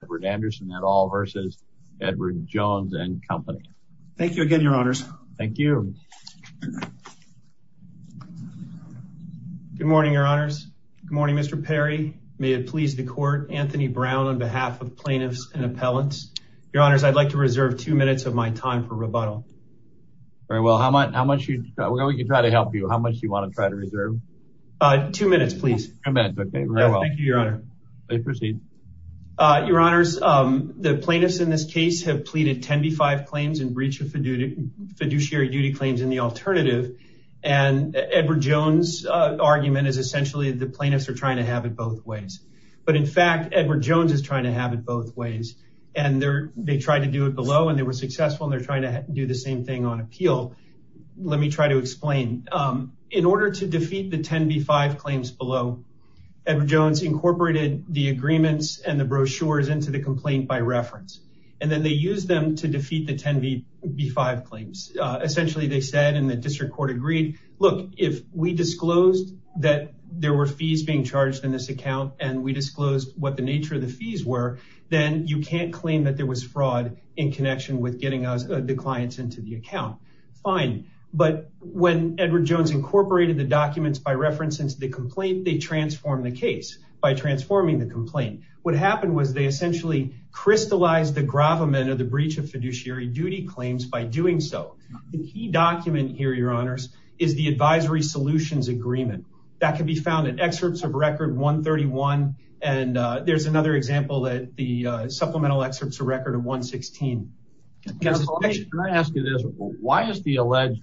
Thank you again, Your Honors. Thank you. Good morning, Your Honors. Good morning, Mr. Perry. May it please the Court. Anthony Brown on behalf of Plaintiffs and Appellants. Your Honors, I'd like to reserve two minutes of my time for rebuttal. Very well. How much do you want to try to help you? How much do you want to try to reserve? Two minutes, please. Two minutes, okay. Very well. Thank you, Your Honor. You may proceed. Your Honors, the plaintiffs in this case have pleaded 10b-5 claims in breach of fiduciary duty claims in the alternative. And Edward Jones' argument is essentially the plaintiffs are trying to have it both ways. But in fact, Edward Jones is trying to have it both ways. And they tried to do it below, and they were successful, and they're trying to do the same thing on appeal. Let me try to explain. In order to defeat the 10b-5 claims below, Edward Jones incorporated the agreements and the brochures into the complaint by reference. And then they used them to defeat the 10b-5 claims. Essentially, they said, and the district court agreed, look, if we disclosed that there were fees being charged in this account, and we disclosed what the nature of the fees were, then you can't claim that there was fraud in connection with getting the clients into the account. Fine. But when Edward Jones incorporated the documents by reference into the complaint, they transformed the case by transforming the complaint. What happened was they essentially crystallized the gravamen of the breach of fiduciary duty claims by doing so. The key document here, Your Honors, is the advisory solutions agreement. That can be found in excerpts of Record 131, and there's another example at the supplemental excerpts of Record 116. Can I ask you this? Why is the alleged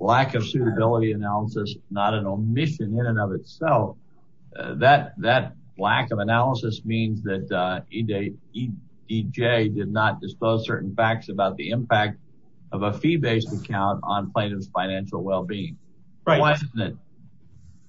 lack of suitability analysis not an omission in and of itself? That lack of analysis means that EJ did not dispose certain facts about the impact of a fee-based account on plaintiff's financial well-being. Why isn't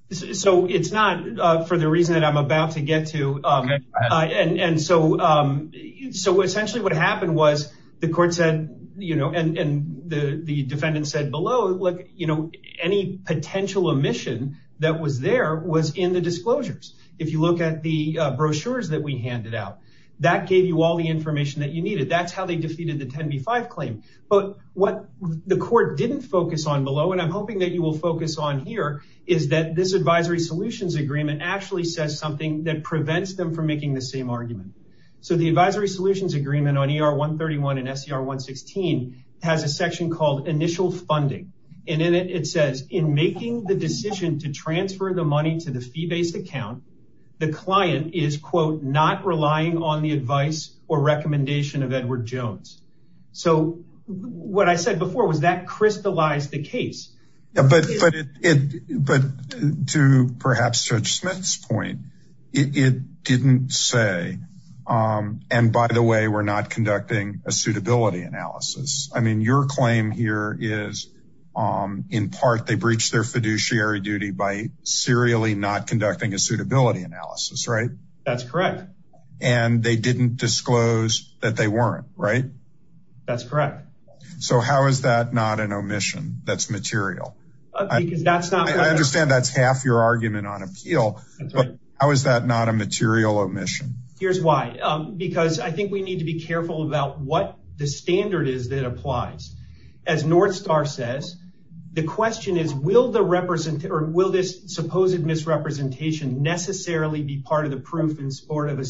it? So it's not for the reason that I'm about to get to. And so essentially what happened was the court said, you know, and the defendant said below, look, you know, any potential omission that was there was in the disclosures. If you look at the brochures that we handed out, that gave you all the information that you needed. That's how they defeated the 10B-5 claim. But what the court didn't focus on below, and I'm hoping that you will focus on here, is that this advisory solutions agreement actually says something that prevents them from making the same argument. So the advisory solutions agreement on ER-131 and SER-116 has a section called initial funding. And in it, it says, in making the decision to transfer the money to the fee-based account, the client is, quote, not relying on the advice or recommendation of Edward Jones. So what I said before was that crystallized the case. But to perhaps Judge Smith's point, it didn't say, and by the way, we're not conducting a suitability analysis. I mean, your claim here is, in part, they breached their fiduciary duty by serially not conducting a suitability analysis, right? That's correct. And they didn't disclose that they weren't, right? That's correct. So how is that not an omission that's material? I understand that's half your argument on appeal. How is that not a material omission? Here's why. Because I think we need to be careful about what the standard is that applies. As Northstar says, the question is, will this supposed misrepresentation necessarily be part of the proof in support of the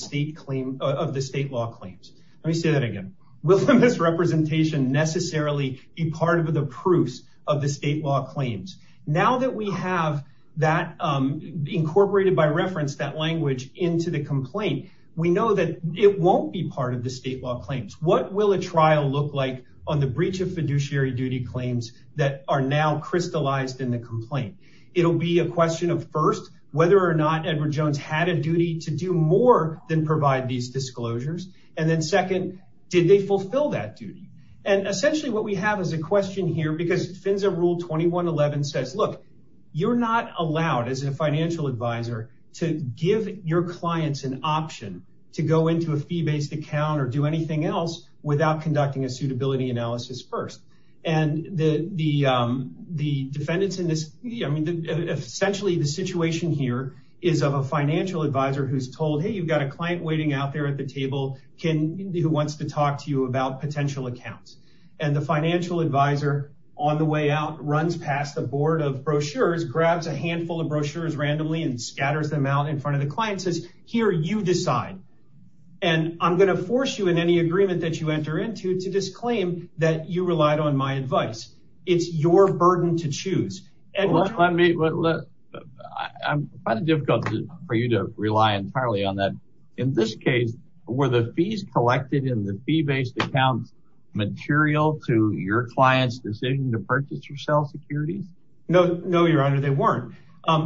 state law claims? Let me say that again. Will this misrepresentation necessarily be part of the proofs of the state law claims? Now that we have that incorporated by reference, that language into the complaint, we know that it won't be part of the state law claims. What will a trial look like on the breach of fiduciary duty claims that are now crystallized in the complaint? It'll be a question of, first, whether or not Edward Jones had a duty to do more than provide these disclosures. And then second, did they fulfill that duty? And essentially what we have is a question here, because FINSA Rule 2111 says, look, you're not allowed as a financial advisor to give your clients an option to go into a fee-based account or do anything else without conducting a suitability analysis first. And essentially the situation here is of a financial advisor who's told, hey, you've got a client waiting out there at the table who wants to talk to you about potential accounts. And the financial advisor, on the way out, runs past the board of brochures, grabs a handful of brochures randomly, and scatters them out in front of the client and says, here, you decide. And I'm going to force you in any agreement that you enter into to disclaim that you relied on my advice. It's your burden to choose. Edward? I'm finding it difficult for you to rely entirely on that. In this case, were the fees collected in the fee-based accounts material to your client's decision to purchase or sell securities? No, Your Honor, they weren't.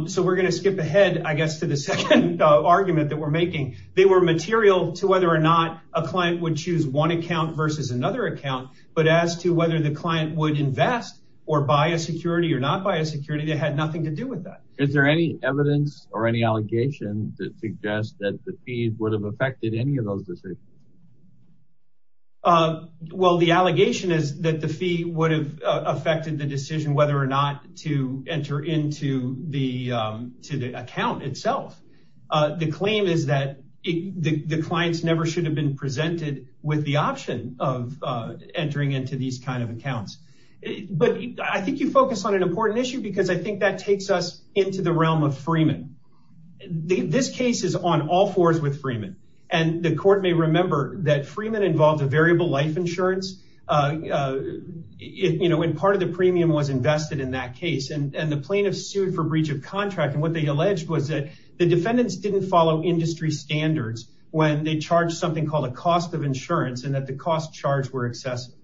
So we're going to skip ahead, I guess, to the second argument that we're making. They were material to whether or not a client would choose one account versus another account, but as to whether the client would invest or buy a security or not buy a security, they had nothing to do with that. Is there any evidence or any allegations that suggest that the fees would have affected any of those decisions? Well, the allegation is that the fee would have affected the decision whether or not to enter into the account itself. The claim is that the clients never should have been presented with the option of entering into these kind of accounts. But I think you focus on an important issue because I think that takes us into the realm of Freeman. This case is on all fours with Freeman, and the court may remember that Freeman involved a variable life insurance, and part of the premium was invested in that case. And the plaintiff sued for breach of contract, and what they alleged was that the defendants didn't follow industry standards when they charged something called a cost of insurance and that the cost charged were excessive.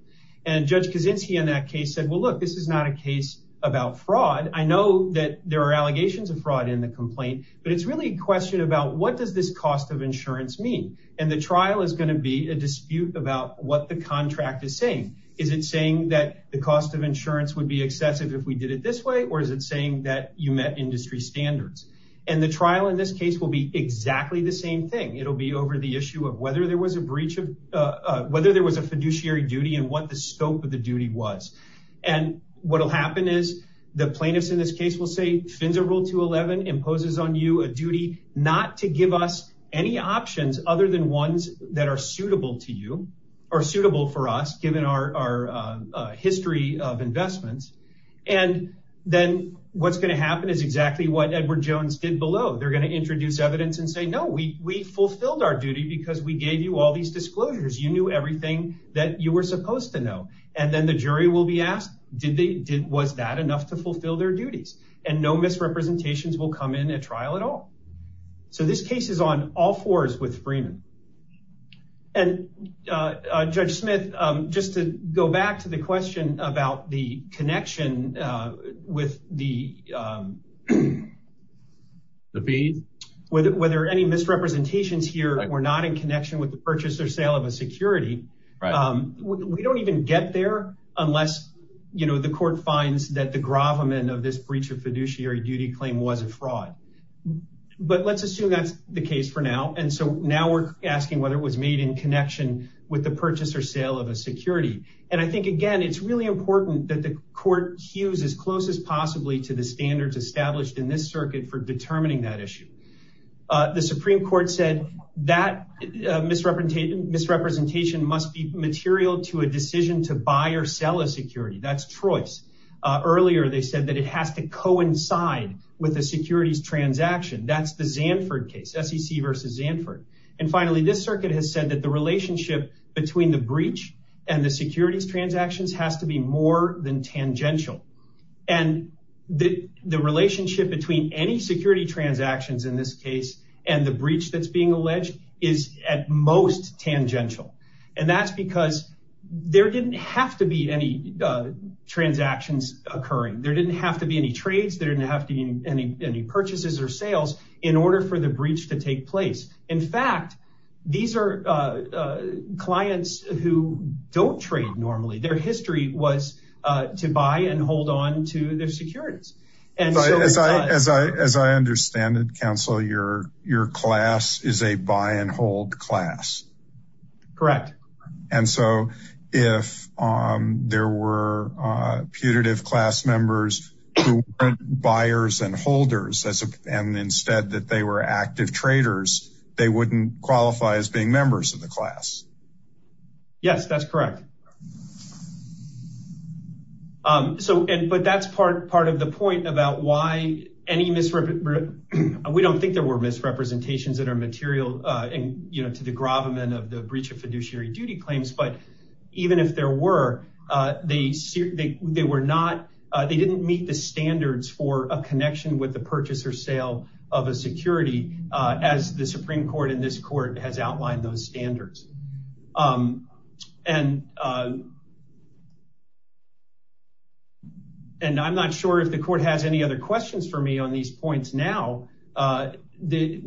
And Judge Kaczynski in that case said, well, look, this is not a case about fraud. I know that there are allegations of fraud in the complaint, but it's really a question about what does this cost of insurance mean? And the trial is going to be a dispute about what the contract is saying. Is it saying that the cost of insurance would be excessive if we did it this way, or is it saying that you met industry standards? And the trial in this case will be exactly the same thing. It'll be over the issue of whether there was a breach of whether there was a fiduciary duty and what the scope of the duty was. And what will happen is the plaintiffs in this case will say, Fins of Rule 211 imposes on you a duty not to give us any options other than ones that are suitable to you or suitable for us given our history of investments. And then what's going to happen is exactly what Edward Jones did below. They're going to introduce evidence and say, no, we fulfilled our duty because we gave you all these disclosures. You knew everything that you were supposed to know. And then the jury will be asked, was that enough to fulfill their duties? And no misrepresentations will come in at trial at all. So this case is on all fours with Freeman. And Judge Smith, just to go back to the question about the connection with the fees, whether any misrepresentations here were not in connection with the purchase or sale of a security. We don't even get there unless the court finds that the gravamen of this breach of fiduciary duty claim was a fraud. But let's assume that's the case for now. And so now we're asking whether it was made in connection with the purchase or sale of a security. And I think, again, it's really important that the court hues as close as possibly to the standards established in this circuit for determining that issue. The Supreme Court said that misrepresentation must be material to a decision to buy or sell a security. That's choice. Earlier, they said that it has to coincide with the securities transaction. That's the Zandford case, SEC versus Zandford. And finally, this circuit has said that the relationship between the breach and the securities transactions has to be more than tangential. And the relationship between any security transactions in this case and the breach that's being alleged is at most tangential. And that's because there didn't have to be any transactions occurring. There didn't have to be any trades. There didn't have to be any purchases or sales in order for the breach to take place. In fact, these are clients who don't trade normally. Their history was to buy and hold on to their securities. As I understand it, counsel, your class is a buy and hold class. Correct. And so if there were putative class members who weren't buyers and holders and instead that they were active traders, they wouldn't qualify as being members of the class. Yes, that's correct. So but that's part of the point about why any misrepresentation. We don't think there were misrepresentations that are material to the gravamen of the breach of fiduciary duty claims. But even if there were, they didn't meet the standards for a connection with the purchase or sale of a security, as the Supreme Court in this court has outlined those standards. And I'm not sure if the court has any other questions for me on these points. Now, the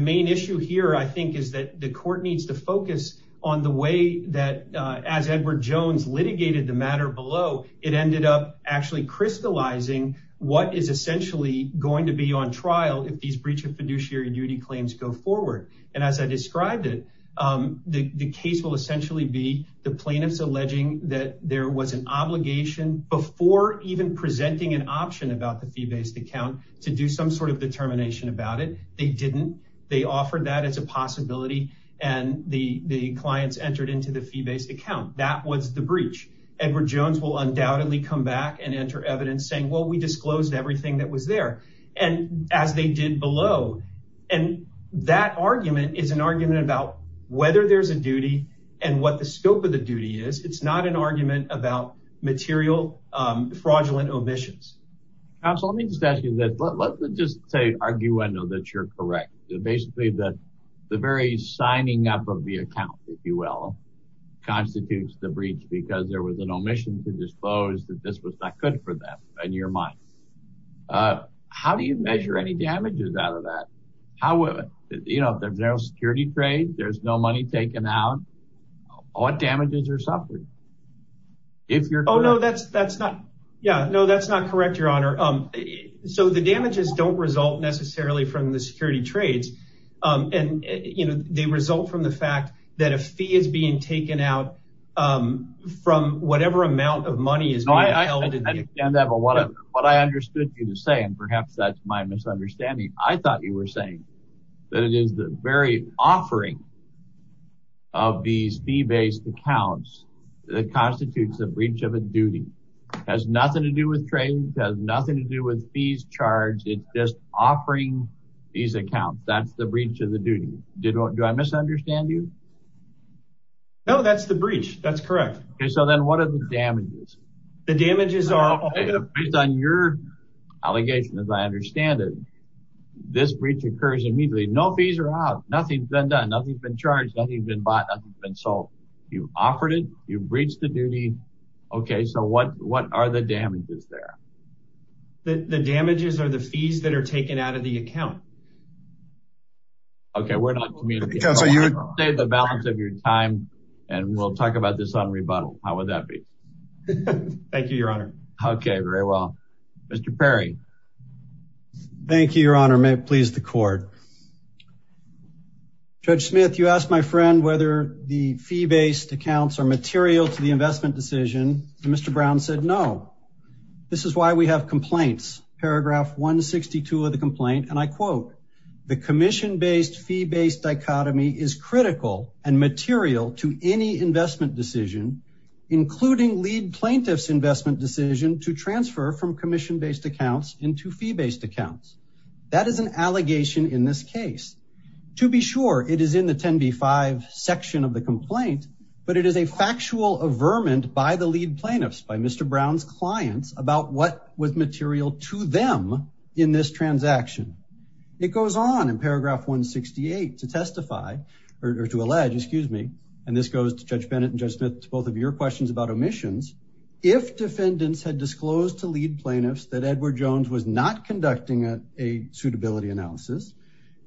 main issue here, I think, is that the court needs to focus on the way that as Edward Jones litigated the matter below, it ended up actually crystallizing what is essentially going to be on trial if these breach of fiduciary duty claims go forward. And as I described it, the case will essentially be the plaintiffs alleging that there was an obligation before even presenting an option about the fee-based account to do some sort of determination about it. They didn't. They offered that as a possibility. And the clients entered into the fee-based account. That was the breach. Edward Jones will undoubtedly come back and enter evidence saying, well, we disclosed everything that was there. And as they did below. And that argument is an argument about whether there's a duty and what the scope of the duty is. It's not an argument about material fraudulent omissions. Absolutely. Let me just ask you that. Let's just say argue. I know that you're correct. Basically, the very signing up of the account, if you will, constitutes the breach because there was an omission to dispose that this was not good for them. And you're mine. How do you measure any damages out of that? How would you know if there's no security trade? There's no money taken out. What damages are suffering? If you're. Oh, no, that's that's not. Yeah. No, that's not correct, Your Honor. So the damages don't result necessarily from the security trades. And they result from the fact that a fee is being taken out from whatever amount of money is. And that's what I understood you to say. And perhaps that's my misunderstanding. I thought you were saying that it is the very offering. Of these fee based accounts that constitutes a breach of a duty has nothing to do with trading, has nothing to do with fees charged. It's just offering these accounts. That's the breach of the duty. Did I misunderstand you? No, that's the breach. That's correct. So then what are the damages? The damages are based on your allegation, as I understand it. This breach occurs immediately. No fees are out. Nothing's been done. Nothing's been charged. Nothing's been bought. Nothing's been sold. You offered it. You breached the duty. OK, so what what are the damages there? The damages are the fees that are taken out of the account. OK, we're not communicating. The balance of your time and we'll talk about this on rebuttal. How would that be? Thank you, Your Honor. OK, very well. Mr. Perry. Thank you, Your Honor. May it please the court. Judge Smith, you asked my friend whether the fee based accounts are material to the investment decision. Mr. Brown said no. This is why we have complaints. Paragraph 162 of the complaint. And I quote the commission based fee based dichotomy is critical and material to any investment decision, including lead plaintiffs investment decision to transfer from commission based accounts into fee based accounts. That is an allegation in this case. To be sure, it is in the 10B5 section of the complaint, but it is a factual averment by the lead plaintiffs, by Mr. Brown's clients about what was material to them in this transaction. It goes on in paragraph 168 to testify or to allege, excuse me, and this goes to Judge Bennett and Judge Smith to both of your questions about omissions. If defendants had disclosed to lead plaintiffs that Edward Jones was not conducting a suitability analysis,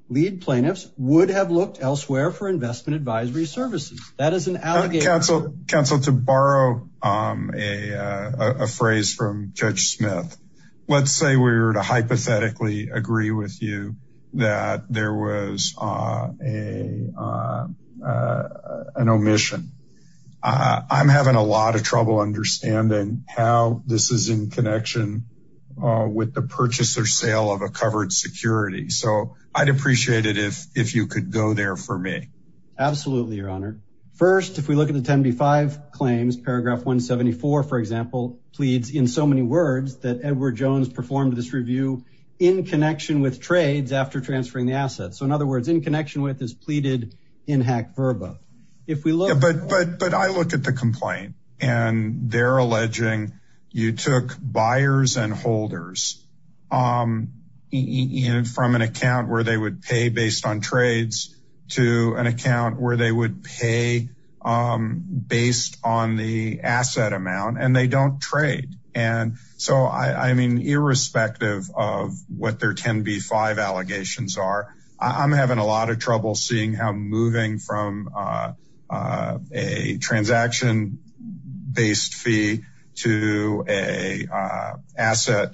lead plaintiffs would have looked elsewhere for investment advisory services. That is an allegation. Counsel, to borrow a phrase from Judge Smith, let's say we were to hypothetically agree with you that there was an omission. I'm having a lot of trouble understanding how this is in connection with the purchase or sale of a covered security. So I'd appreciate it if you could go there for me. Absolutely, Your Honor. First, if we look at the 10B5 claims, paragraph 174, for example, pleads in so many words that Edward Jones performed this review in connection with trades after transferring the assets. So in other words, in connection with is pleaded in hack verba. But I look at the complaint and they're alleging you took buyers and holders from an account where they would pay based on trades to an account where they would pay based on the asset amount and they don't trade. And so, I mean, irrespective of what their 10B5 allegations are, I'm having a lot of trouble seeing how moving from a transaction based fee to a asset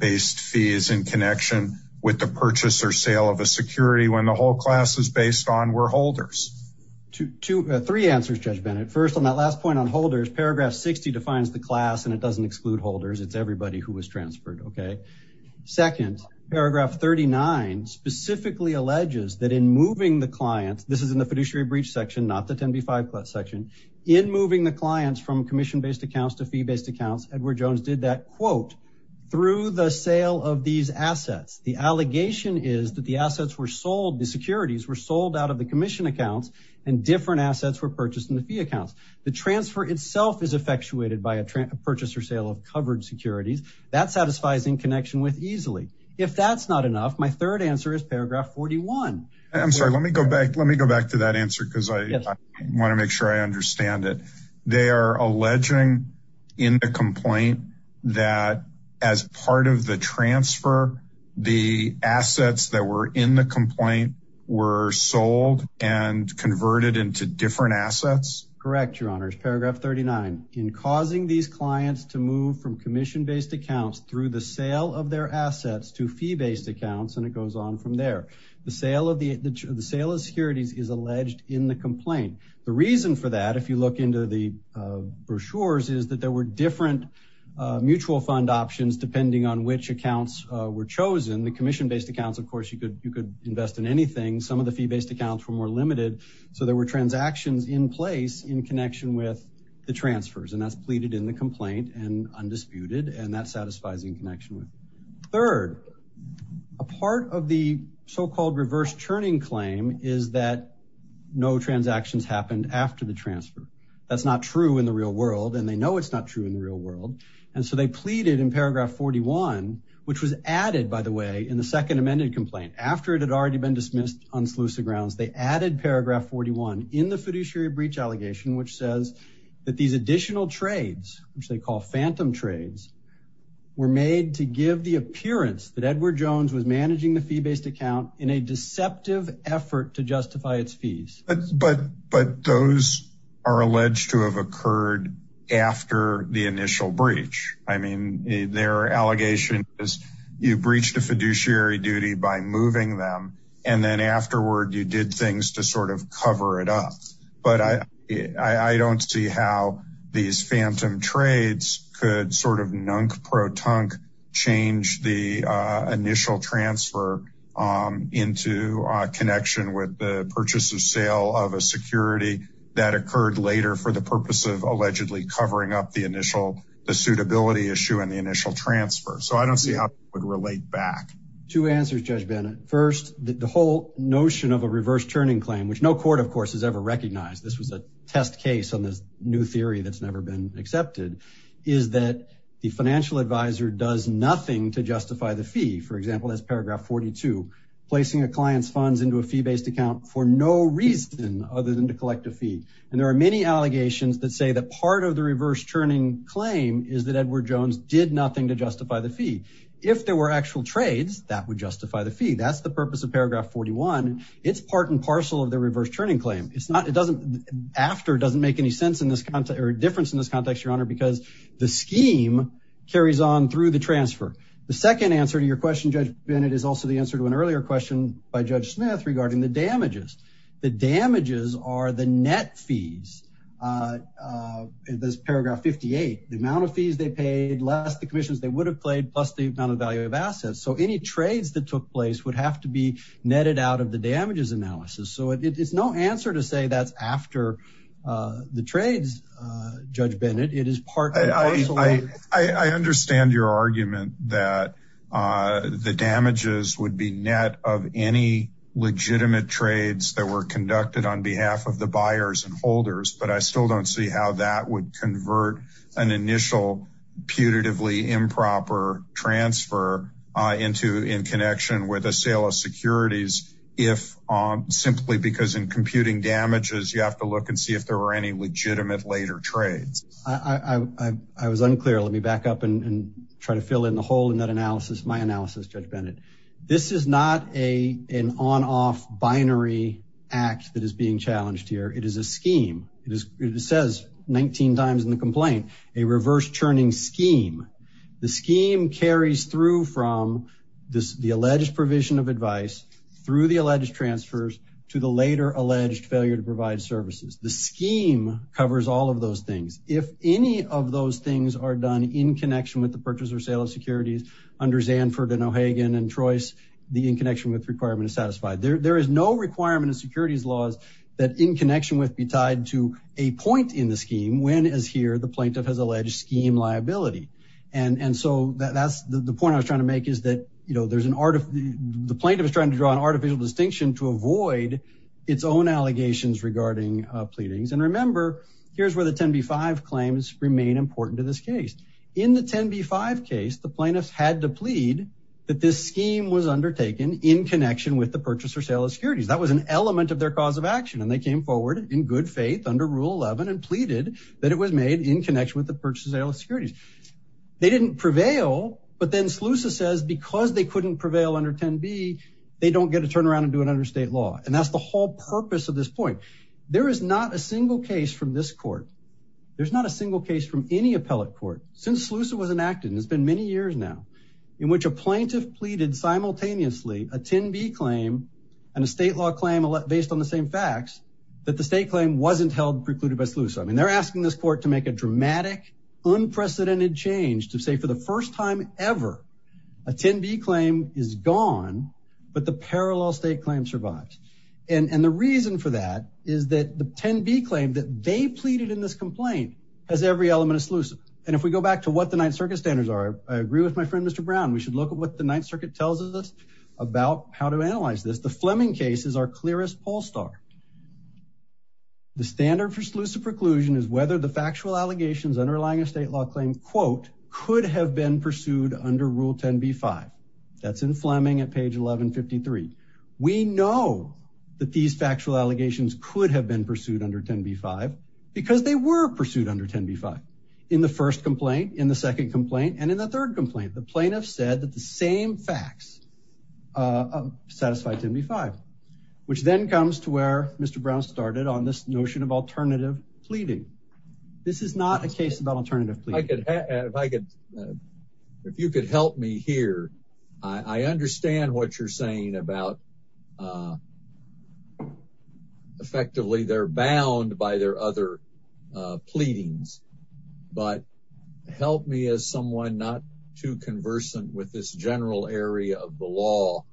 based fee is in connection with the purchase or sale of a security when the whole class is based on were holders. Two, three answers, Judge Bennett. First, on that last point on holders, paragraph 60 defines the class and it doesn't exclude holders. It's everybody who was transferred. Second, paragraph 39 specifically alleges that in moving the client, this is in the fiduciary breach section, not the 10B5 section, in moving the clients from commission based accounts to fee based accounts, Edward Jones did that, quote, through the sale of these assets. The allegation is that the assets were sold, the securities were sold out of the commission accounts and different assets were purchased in the fee accounts. The transfer itself is effectuated by a purchase or sale of covered securities. That satisfies in connection with easily. If that's not enough, my third answer is paragraph 41. I'm sorry. Let me go back. Let me go back to that answer because I want to make sure I understand it. They are alleging in the complaint that as part of the transfer, the assets that were in the complaint were sold and converted into different assets. Correct. Yes, Your Honor. It's paragraph 39. In causing these clients to move from commission based accounts through the sale of their assets to fee based accounts, and it goes on from there. The sale of securities is alleged in the complaint. The reason for that, if you look into the brochures, is that there were different mutual fund options depending on which accounts were chosen. The commission based accounts, of course, you could invest in anything. Some of the fee based accounts were more limited, so there were transactions in place in connection with the transfers, and that's pleaded in the complaint and undisputed, and that satisfies in connection with. Third, a part of the so-called reverse churning claim is that no transactions happened after the transfer. That's not true in the real world, and they know it's not true in the real world, and so they pleaded in paragraph 41, which was added, by the way, in the second amended complaint. After it had already been dismissed on Seleucia Grounds, they added paragraph 41 in the fiduciary breach allegation, which says that these additional trades, which they call phantom trades, were made to give the appearance that Edward Jones was managing the fee based account in a deceptive effort to justify its fees. But those are alleged to have occurred after the initial breach. I mean, their allegation is you breached a fiduciary duty by moving them, and then afterward you did things to sort of cover it up. But I don't see how these phantom trades could sort of nunk-pro-tunk change the initial transfer into a connection with the purchase of sale of a security that occurred later for the purpose of allegedly covering up the initial suitability issue and the initial transfer. So I don't see how it would relate back. Two answers, Judge Bennett. First, the whole notion of a reverse turning claim, which no court, of course, has ever recognized. This was a test case on this new theory that's never been accepted, is that the financial advisor does nothing to justify the fee. For example, that's paragraph 42, placing a client's funds into a fee based account for no reason other than to collect a fee. And there are many allegations that say that part of the reverse turning claim is that Edward Jones did nothing to justify the fee. If there were actual trades, that would justify the fee. That's the purpose of paragraph 41. It's part and parcel of the reverse turning claim. After doesn't make any difference in this context, Your Honor, because the scheme carries on through the transfer. The second answer to your question, Judge Bennett, is also the answer to an earlier question by Judge Smith regarding the damages. The damages are the net fees. There's paragraph 58, the amount of fees they paid, less the commissions they would have played, plus the amount of value of assets. So any trades that took place would have to be netted out of the damages analysis. So it's no answer to say that's after the trades, Judge Bennett. It is part and parcel. I understand your argument that the damages would be net of any legitimate trades that were conducted on behalf of the buyers and holders, but I still don't see how that would convert an initial putatively improper transfer into in connection with a sale of securities if simply because in computing damages, you have to look and see if there were any legitimate later trades. I was unclear. Let me back up and try to fill in the hole in that analysis, my analysis, Judge Bennett. This is not an on-off binary act that is being challenged here. It is a scheme. It says 19 times in the complaint, a reverse churning scheme. The scheme carries through from the alleged provision of advice through the alleged transfers to the later alleged failure to provide services. The scheme covers all of those things. If any of those things are done in connection with the purchase or sale of securities under Zandford and O'Hagan and Trois, the in connection with requirement is satisfied. There is no requirement of securities laws that in connection with be tied to a point in the scheme when as here the plaintiff has alleged scheme liability. And so that's the point I was trying to make is that, you know, there's an art of the plaintiff is trying to draw an artificial distinction to avoid its own allegations regarding pleadings. And remember, here's where the 10b-5 claims remain important to this case. In the 10b-5 case, the plaintiffs had to plead that this scheme was undertaken in connection with the purchase or sale of securities. That was an element of their cause of action. And they came forward in good faith under Rule 11 and pleaded that it was made in connection with the purchase or sale of securities. They didn't prevail, but then SLUSA says because they couldn't prevail under 10b, they don't get to turn around and do it under state law. And that's the whole purpose of this point. There is not a single case from this court. There's not a single case from any appellate court since SLUSA was enacted, and it's been many years now, in which a plaintiff pleaded simultaneously a 10b claim and a state law claim based on the same facts that the state claim wasn't held precluded by SLUSA. I mean, they're asking this court to make a dramatic, unprecedented change to say for the first time ever a 10b claim is gone, but the parallel state claim survives. And the reason for that is that the 10b claim that they pleaded in this complaint has every element of SLUSA. And if we go back to what the Ninth Circuit standards are, I agree with my friend Mr. Brown, we should look at what the Ninth Circuit tells us about how to analyze this. The Fleming case is our clearest poll start. The standard for SLUSA preclusion is whether the factual allegations underlying a state law claim, quote, could have been pursued under Rule 10b-5. That's in Fleming at page 1153. We know that these factual allegations could have been pursued under 10b-5 because they were pursued under 10b-5 in the first complaint, in the second complaint, and in the third complaint. The plaintiff said that the same facts satisfy 10b-5, which then comes to where Mr. Brown started on this notion of alternative pleading. This is not a case about alternative pleading. If you could help me here, I understand what you're saying about, effectively they're bound by their other pleadings, but help me as someone not too conversant with this general area of the law.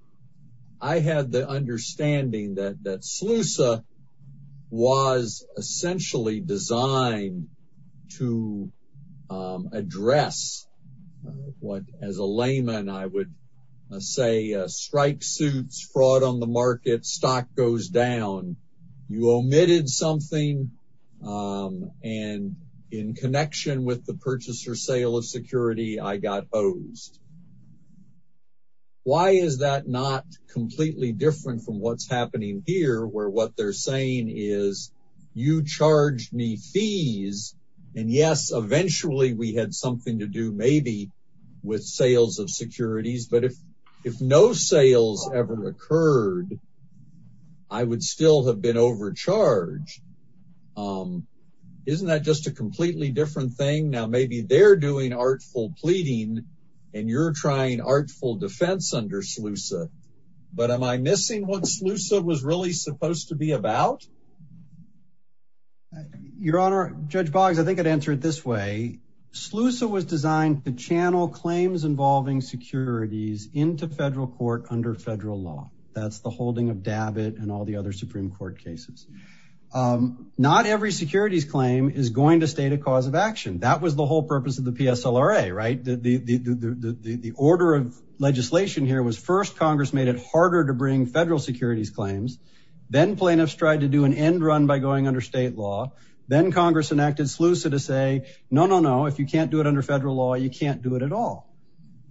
I have the understanding that SLUSA was essentially designed to address what, as a layman, I would say strike suits, fraud on the market, stock goes down, you omitted something, and in connection with the purchase or sale of security, I got hosed. Why is that not completely different from what's happening here, where what they're saying is, you charged me fees, and yes, eventually we had something to do maybe with sales of securities, but if no sales ever occurred, I would still have been overcharged. Isn't that just a completely different thing? Now, maybe they're doing artful pleading, and you're trying artful defense under SLUSA, but am I missing what SLUSA was really supposed to be about? Your Honor, Judge Boggs, I think I'd answer it this way. SLUSA was designed to channel claims involving securities into federal court under federal law. That's the holding of DABIT and all the other Supreme Court cases. Not every securities claim is going to state a cause of action. That was the whole purpose of the PSLRA, right? The order of legislation here was, first, Congress made it harder to bring federal securities claims. Then plaintiffs tried to do an end run by going under state law. Then Congress enacted SLUSA to say, no, no, no, if you can't do it under federal law, you can't do it at all.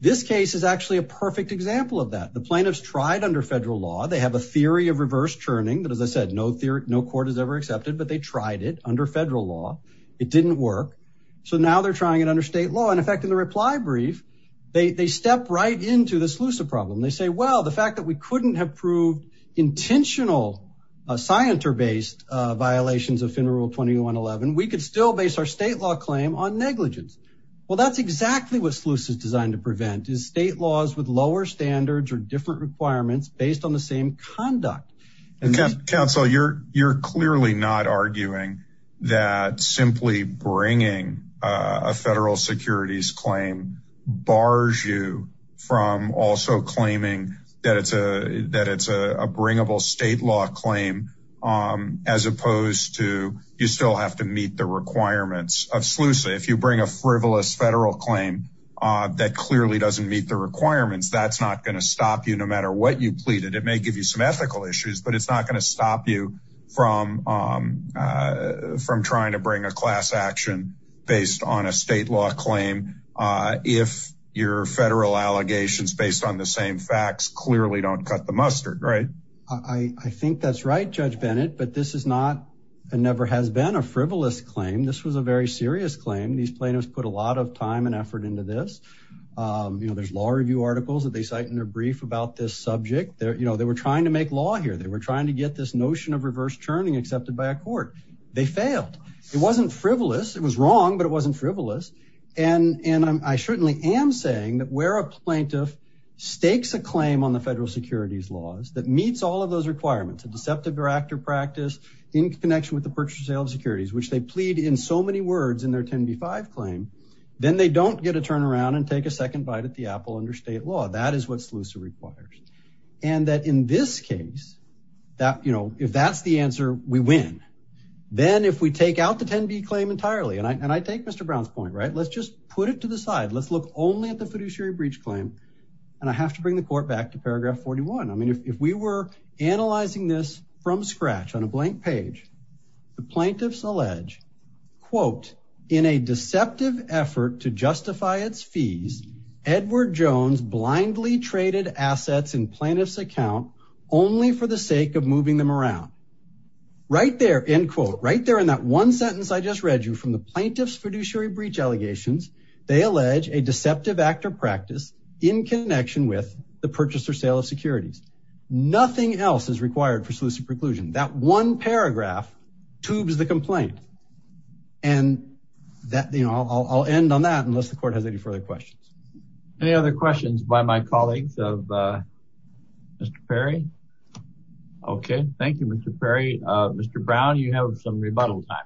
This case is actually a perfect example of that. The plaintiffs tried under federal law. They have a theory of reverse churning that, as I said, no court has ever accepted, but they tried it under federal law. It didn't work. So now they're trying it under state law. In effect, in the reply brief, they step right into the SLUSA problem. They say, well, the fact that we couldn't have proved intentional scienter-based violations of Federal Rule 2111, we could still base our state law claim on negligence. Well, that's exactly what SLUSA is designed to prevent, is state laws with lower standards or different requirements based on the same conduct. Counsel, you're clearly not arguing that simply bringing a federal securities claim bars you from also claiming that it's a bringable state law claim as opposed to you still have to meet the requirements of SLUSA. If you bring a frivolous federal claim that clearly doesn't meet the requirements, that's not going to stop you no matter what you pleaded. It may give you some ethical issues, but it's not going to stop you from trying to bring a class action based on a state law claim if your federal allegations based on the same facts clearly don't cut the mustard, right? I think that's right, Judge Bennett, but this is not and never has been a frivolous claim. This was a very serious claim. These plaintiffs put a lot of time and effort into this. There's law review articles that they cite in their brief about this subject. They were trying to make law here. They were trying to get this notion of reverse churning accepted by a court. They failed. It wasn't frivolous. It was wrong, but it wasn't frivolous. And I certainly am saying that where a plaintiff stakes a claim on the federal securities laws that meets all of those requirements, a deceptive or active practice in connection with the purchase or sale of securities, which they plead in so many words in their 10b-5 claim, then they don't get a turnaround and take a second bite at the apple under state law. That is what SLUSA requires. And that in this case, if that's the answer, we win. Then if we take out the 10b claim entirely, and I take Mr. Brown's point, right? Let's just put it to the side. Let's look only at the fiduciary breach claim, and I have to bring the court back to paragraph 41. I mean, if we were analyzing this from scratch on a blank page, the plaintiffs allege, quote, in a deceptive effort to justify its fees, Edward Jones blindly traded assets in plaintiff's account only for the sake of moving them around. Right there, end quote. Right there in that one sentence I just read you from the plaintiff's fiduciary breach allegations, they allege a deceptive act or practice in connection with the purchase or sale of securities. That one paragraph tubes the complaint. And I'll end on that unless the court has any further questions. Any other questions by my colleagues of Mr. Perry? Okay, thank you, Mr. Perry. Mr. Brown, you have some rebuttal time.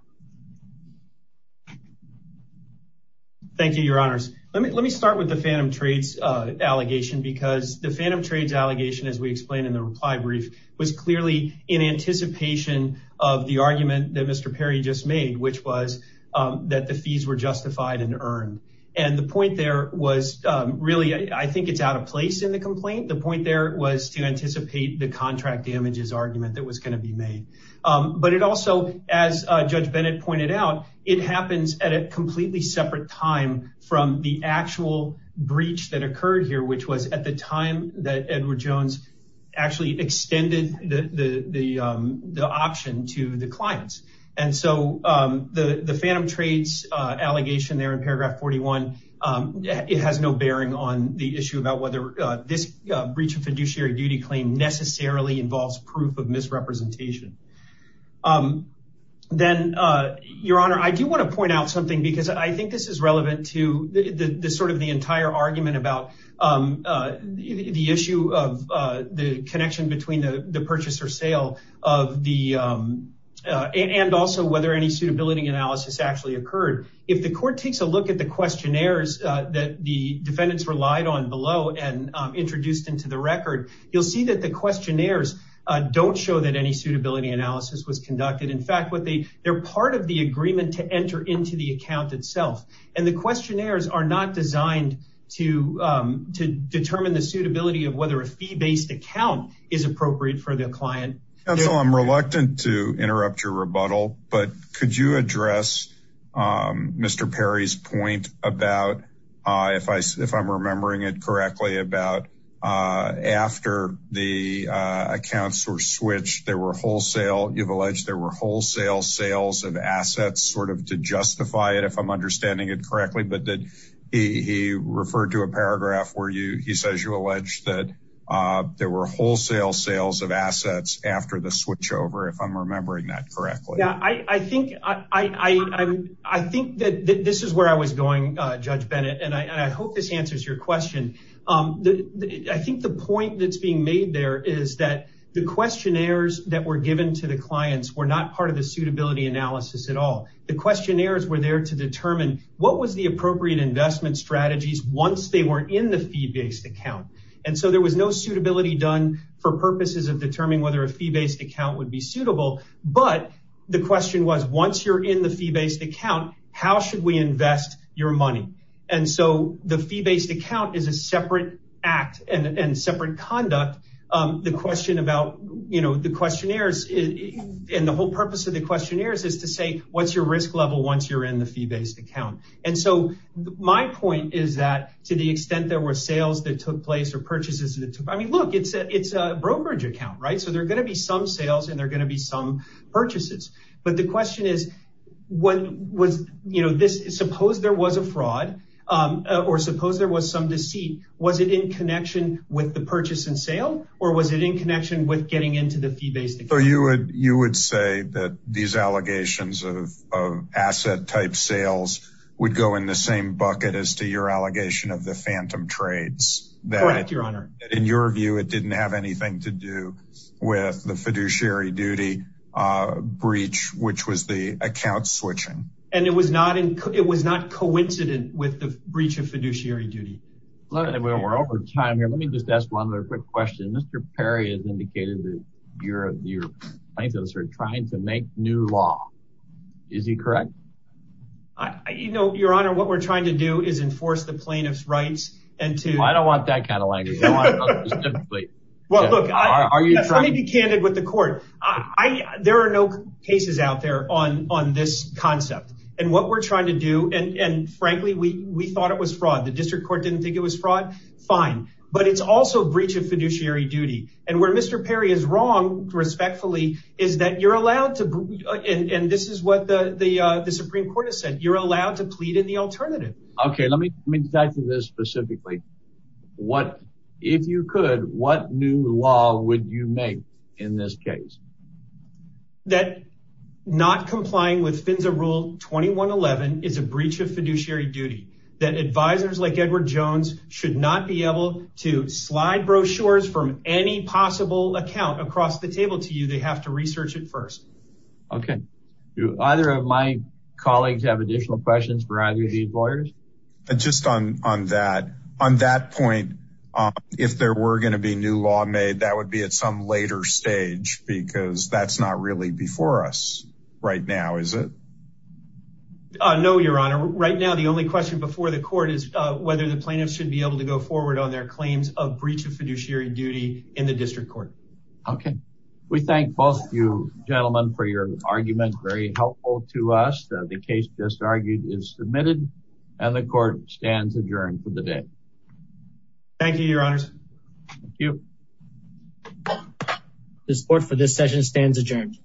Thank you, your honors. Let me start with the Phantom Trades allegation because the Phantom Trades allegation, as we explained in the reply brief, was clearly in anticipation of the argument that Mr. Perry just made, which was that the fees were justified and earned. And the point there was really, I think it's out of place in the complaint. The point there was to anticipate the contract damages argument that was gonna be made. But it also, as Judge Bennett pointed out, it happens at a completely separate time from the actual breach that occurred here, which was at the time that Edward Jones actually extended the option to the clients. And so the Phantom Trades allegation there in paragraph 41, it has no bearing on the issue about whether this breach of fiduciary duty claim necessarily involves proof of misrepresentation. Then, your honor, I do wanna point out something because I think this is relevant to sort of the entire argument about the issue of the connection between the purchase or sale and also whether any suitability analysis actually occurred. If the court takes a look at the questionnaires that the defendants relied on below and introduced into the record, you'll see that the questionnaires don't show that any suitability analysis was conducted. In fact, they're part of the agreement to enter into the account itself. And the questionnaires are not designed to determine the suitability of whether a fee-based account is appropriate for the client. Counsel, I'm reluctant to interrupt your rebuttal, but could you address Mr. Perry's point about, if I'm remembering it correctly, about after the accounts were switched, there were wholesale, you've alleged there were wholesale sales of assets sort of to justify it, if I'm understanding it correctly, but he referred to a paragraph where he says you allege that there were wholesale sales of assets after the switchover, if I'm remembering that correctly. Yeah, I think that this is where I was going, Judge Bennett, and I hope this answers your question. I think the point that's being made there is that the questionnaires that were given to the clients were not part of the suitability analysis at all. The questionnaires were there to determine what was the appropriate investment strategies once they were in the fee-based account. And so there was no suitability done for purposes of determining whether a fee-based account would be suitable, but the question was, once you're in the fee-based account, how should we invest your money? and separate conduct. The question about, you know, and the whole purpose of the questionnaires is to say, what's your risk level once you're in the fee-based account? And so my point is that to the extent there were sales that took place or purchases that took place, I mean, look, it's a brokerage account, right? So there are going to be some sales and there are going to be some purchases. But the question is, suppose there was a fraud or suppose there was some deceit, was it in connection with the purchase and sale or was it in connection with getting into the fee-based account? So you would say that these allegations of asset-type sales would go in the same bucket as to your allegation of the phantom trades. Correct, Your Honor. That in your view, it didn't have anything to do with the fiduciary duty breach, which was the account switching. And it was not coincident with the breach of fiduciary duty. Well, we're over time here. Let me just ask one other quick question. Mr. Perry has indicated that your plaintiffs are trying to make new law. Is he correct? You know, Your Honor, what we're trying to do is enforce the plaintiff's rights and to- I don't want that kind of language. I want it specifically. Well, look, I need to be candid with the court. There are no cases out there on this concept. And what we're trying to do, and frankly, we thought it was fraud. The district court didn't think it was fraud. Fine. But it's also breach of fiduciary duty. And where Mr. Perry is wrong, respectfully, is that you're allowed to- and this is what the Supreme Court has said. You're allowed to plead in the alternative. Okay. Let me get back to this specifically. If you could, what new law would you make in this case? That not complying with FINSA Rule 2111 is a breach of fiduciary duty. That advisors like Edward Jones should not be able to slide brochures from any possible account across the table to you. They have to research it first. Okay. Do either of my colleagues have additional questions for either of these lawyers? Just on that, on that point, if there were going to be new law made, that would be at some later stage because that's not really before us right now, is it? No, Your Honor. Right now, the only question before the court is whether the plaintiffs should be able to go forward on their claims of breach of fiduciary duty in the district court. Okay. We thank both of you gentlemen for your argument. Very helpful to us. The case just argued is submitted and the court stands adjourned for the day. Thank you, Your Honors. Thank you. This court for this session stands adjourned.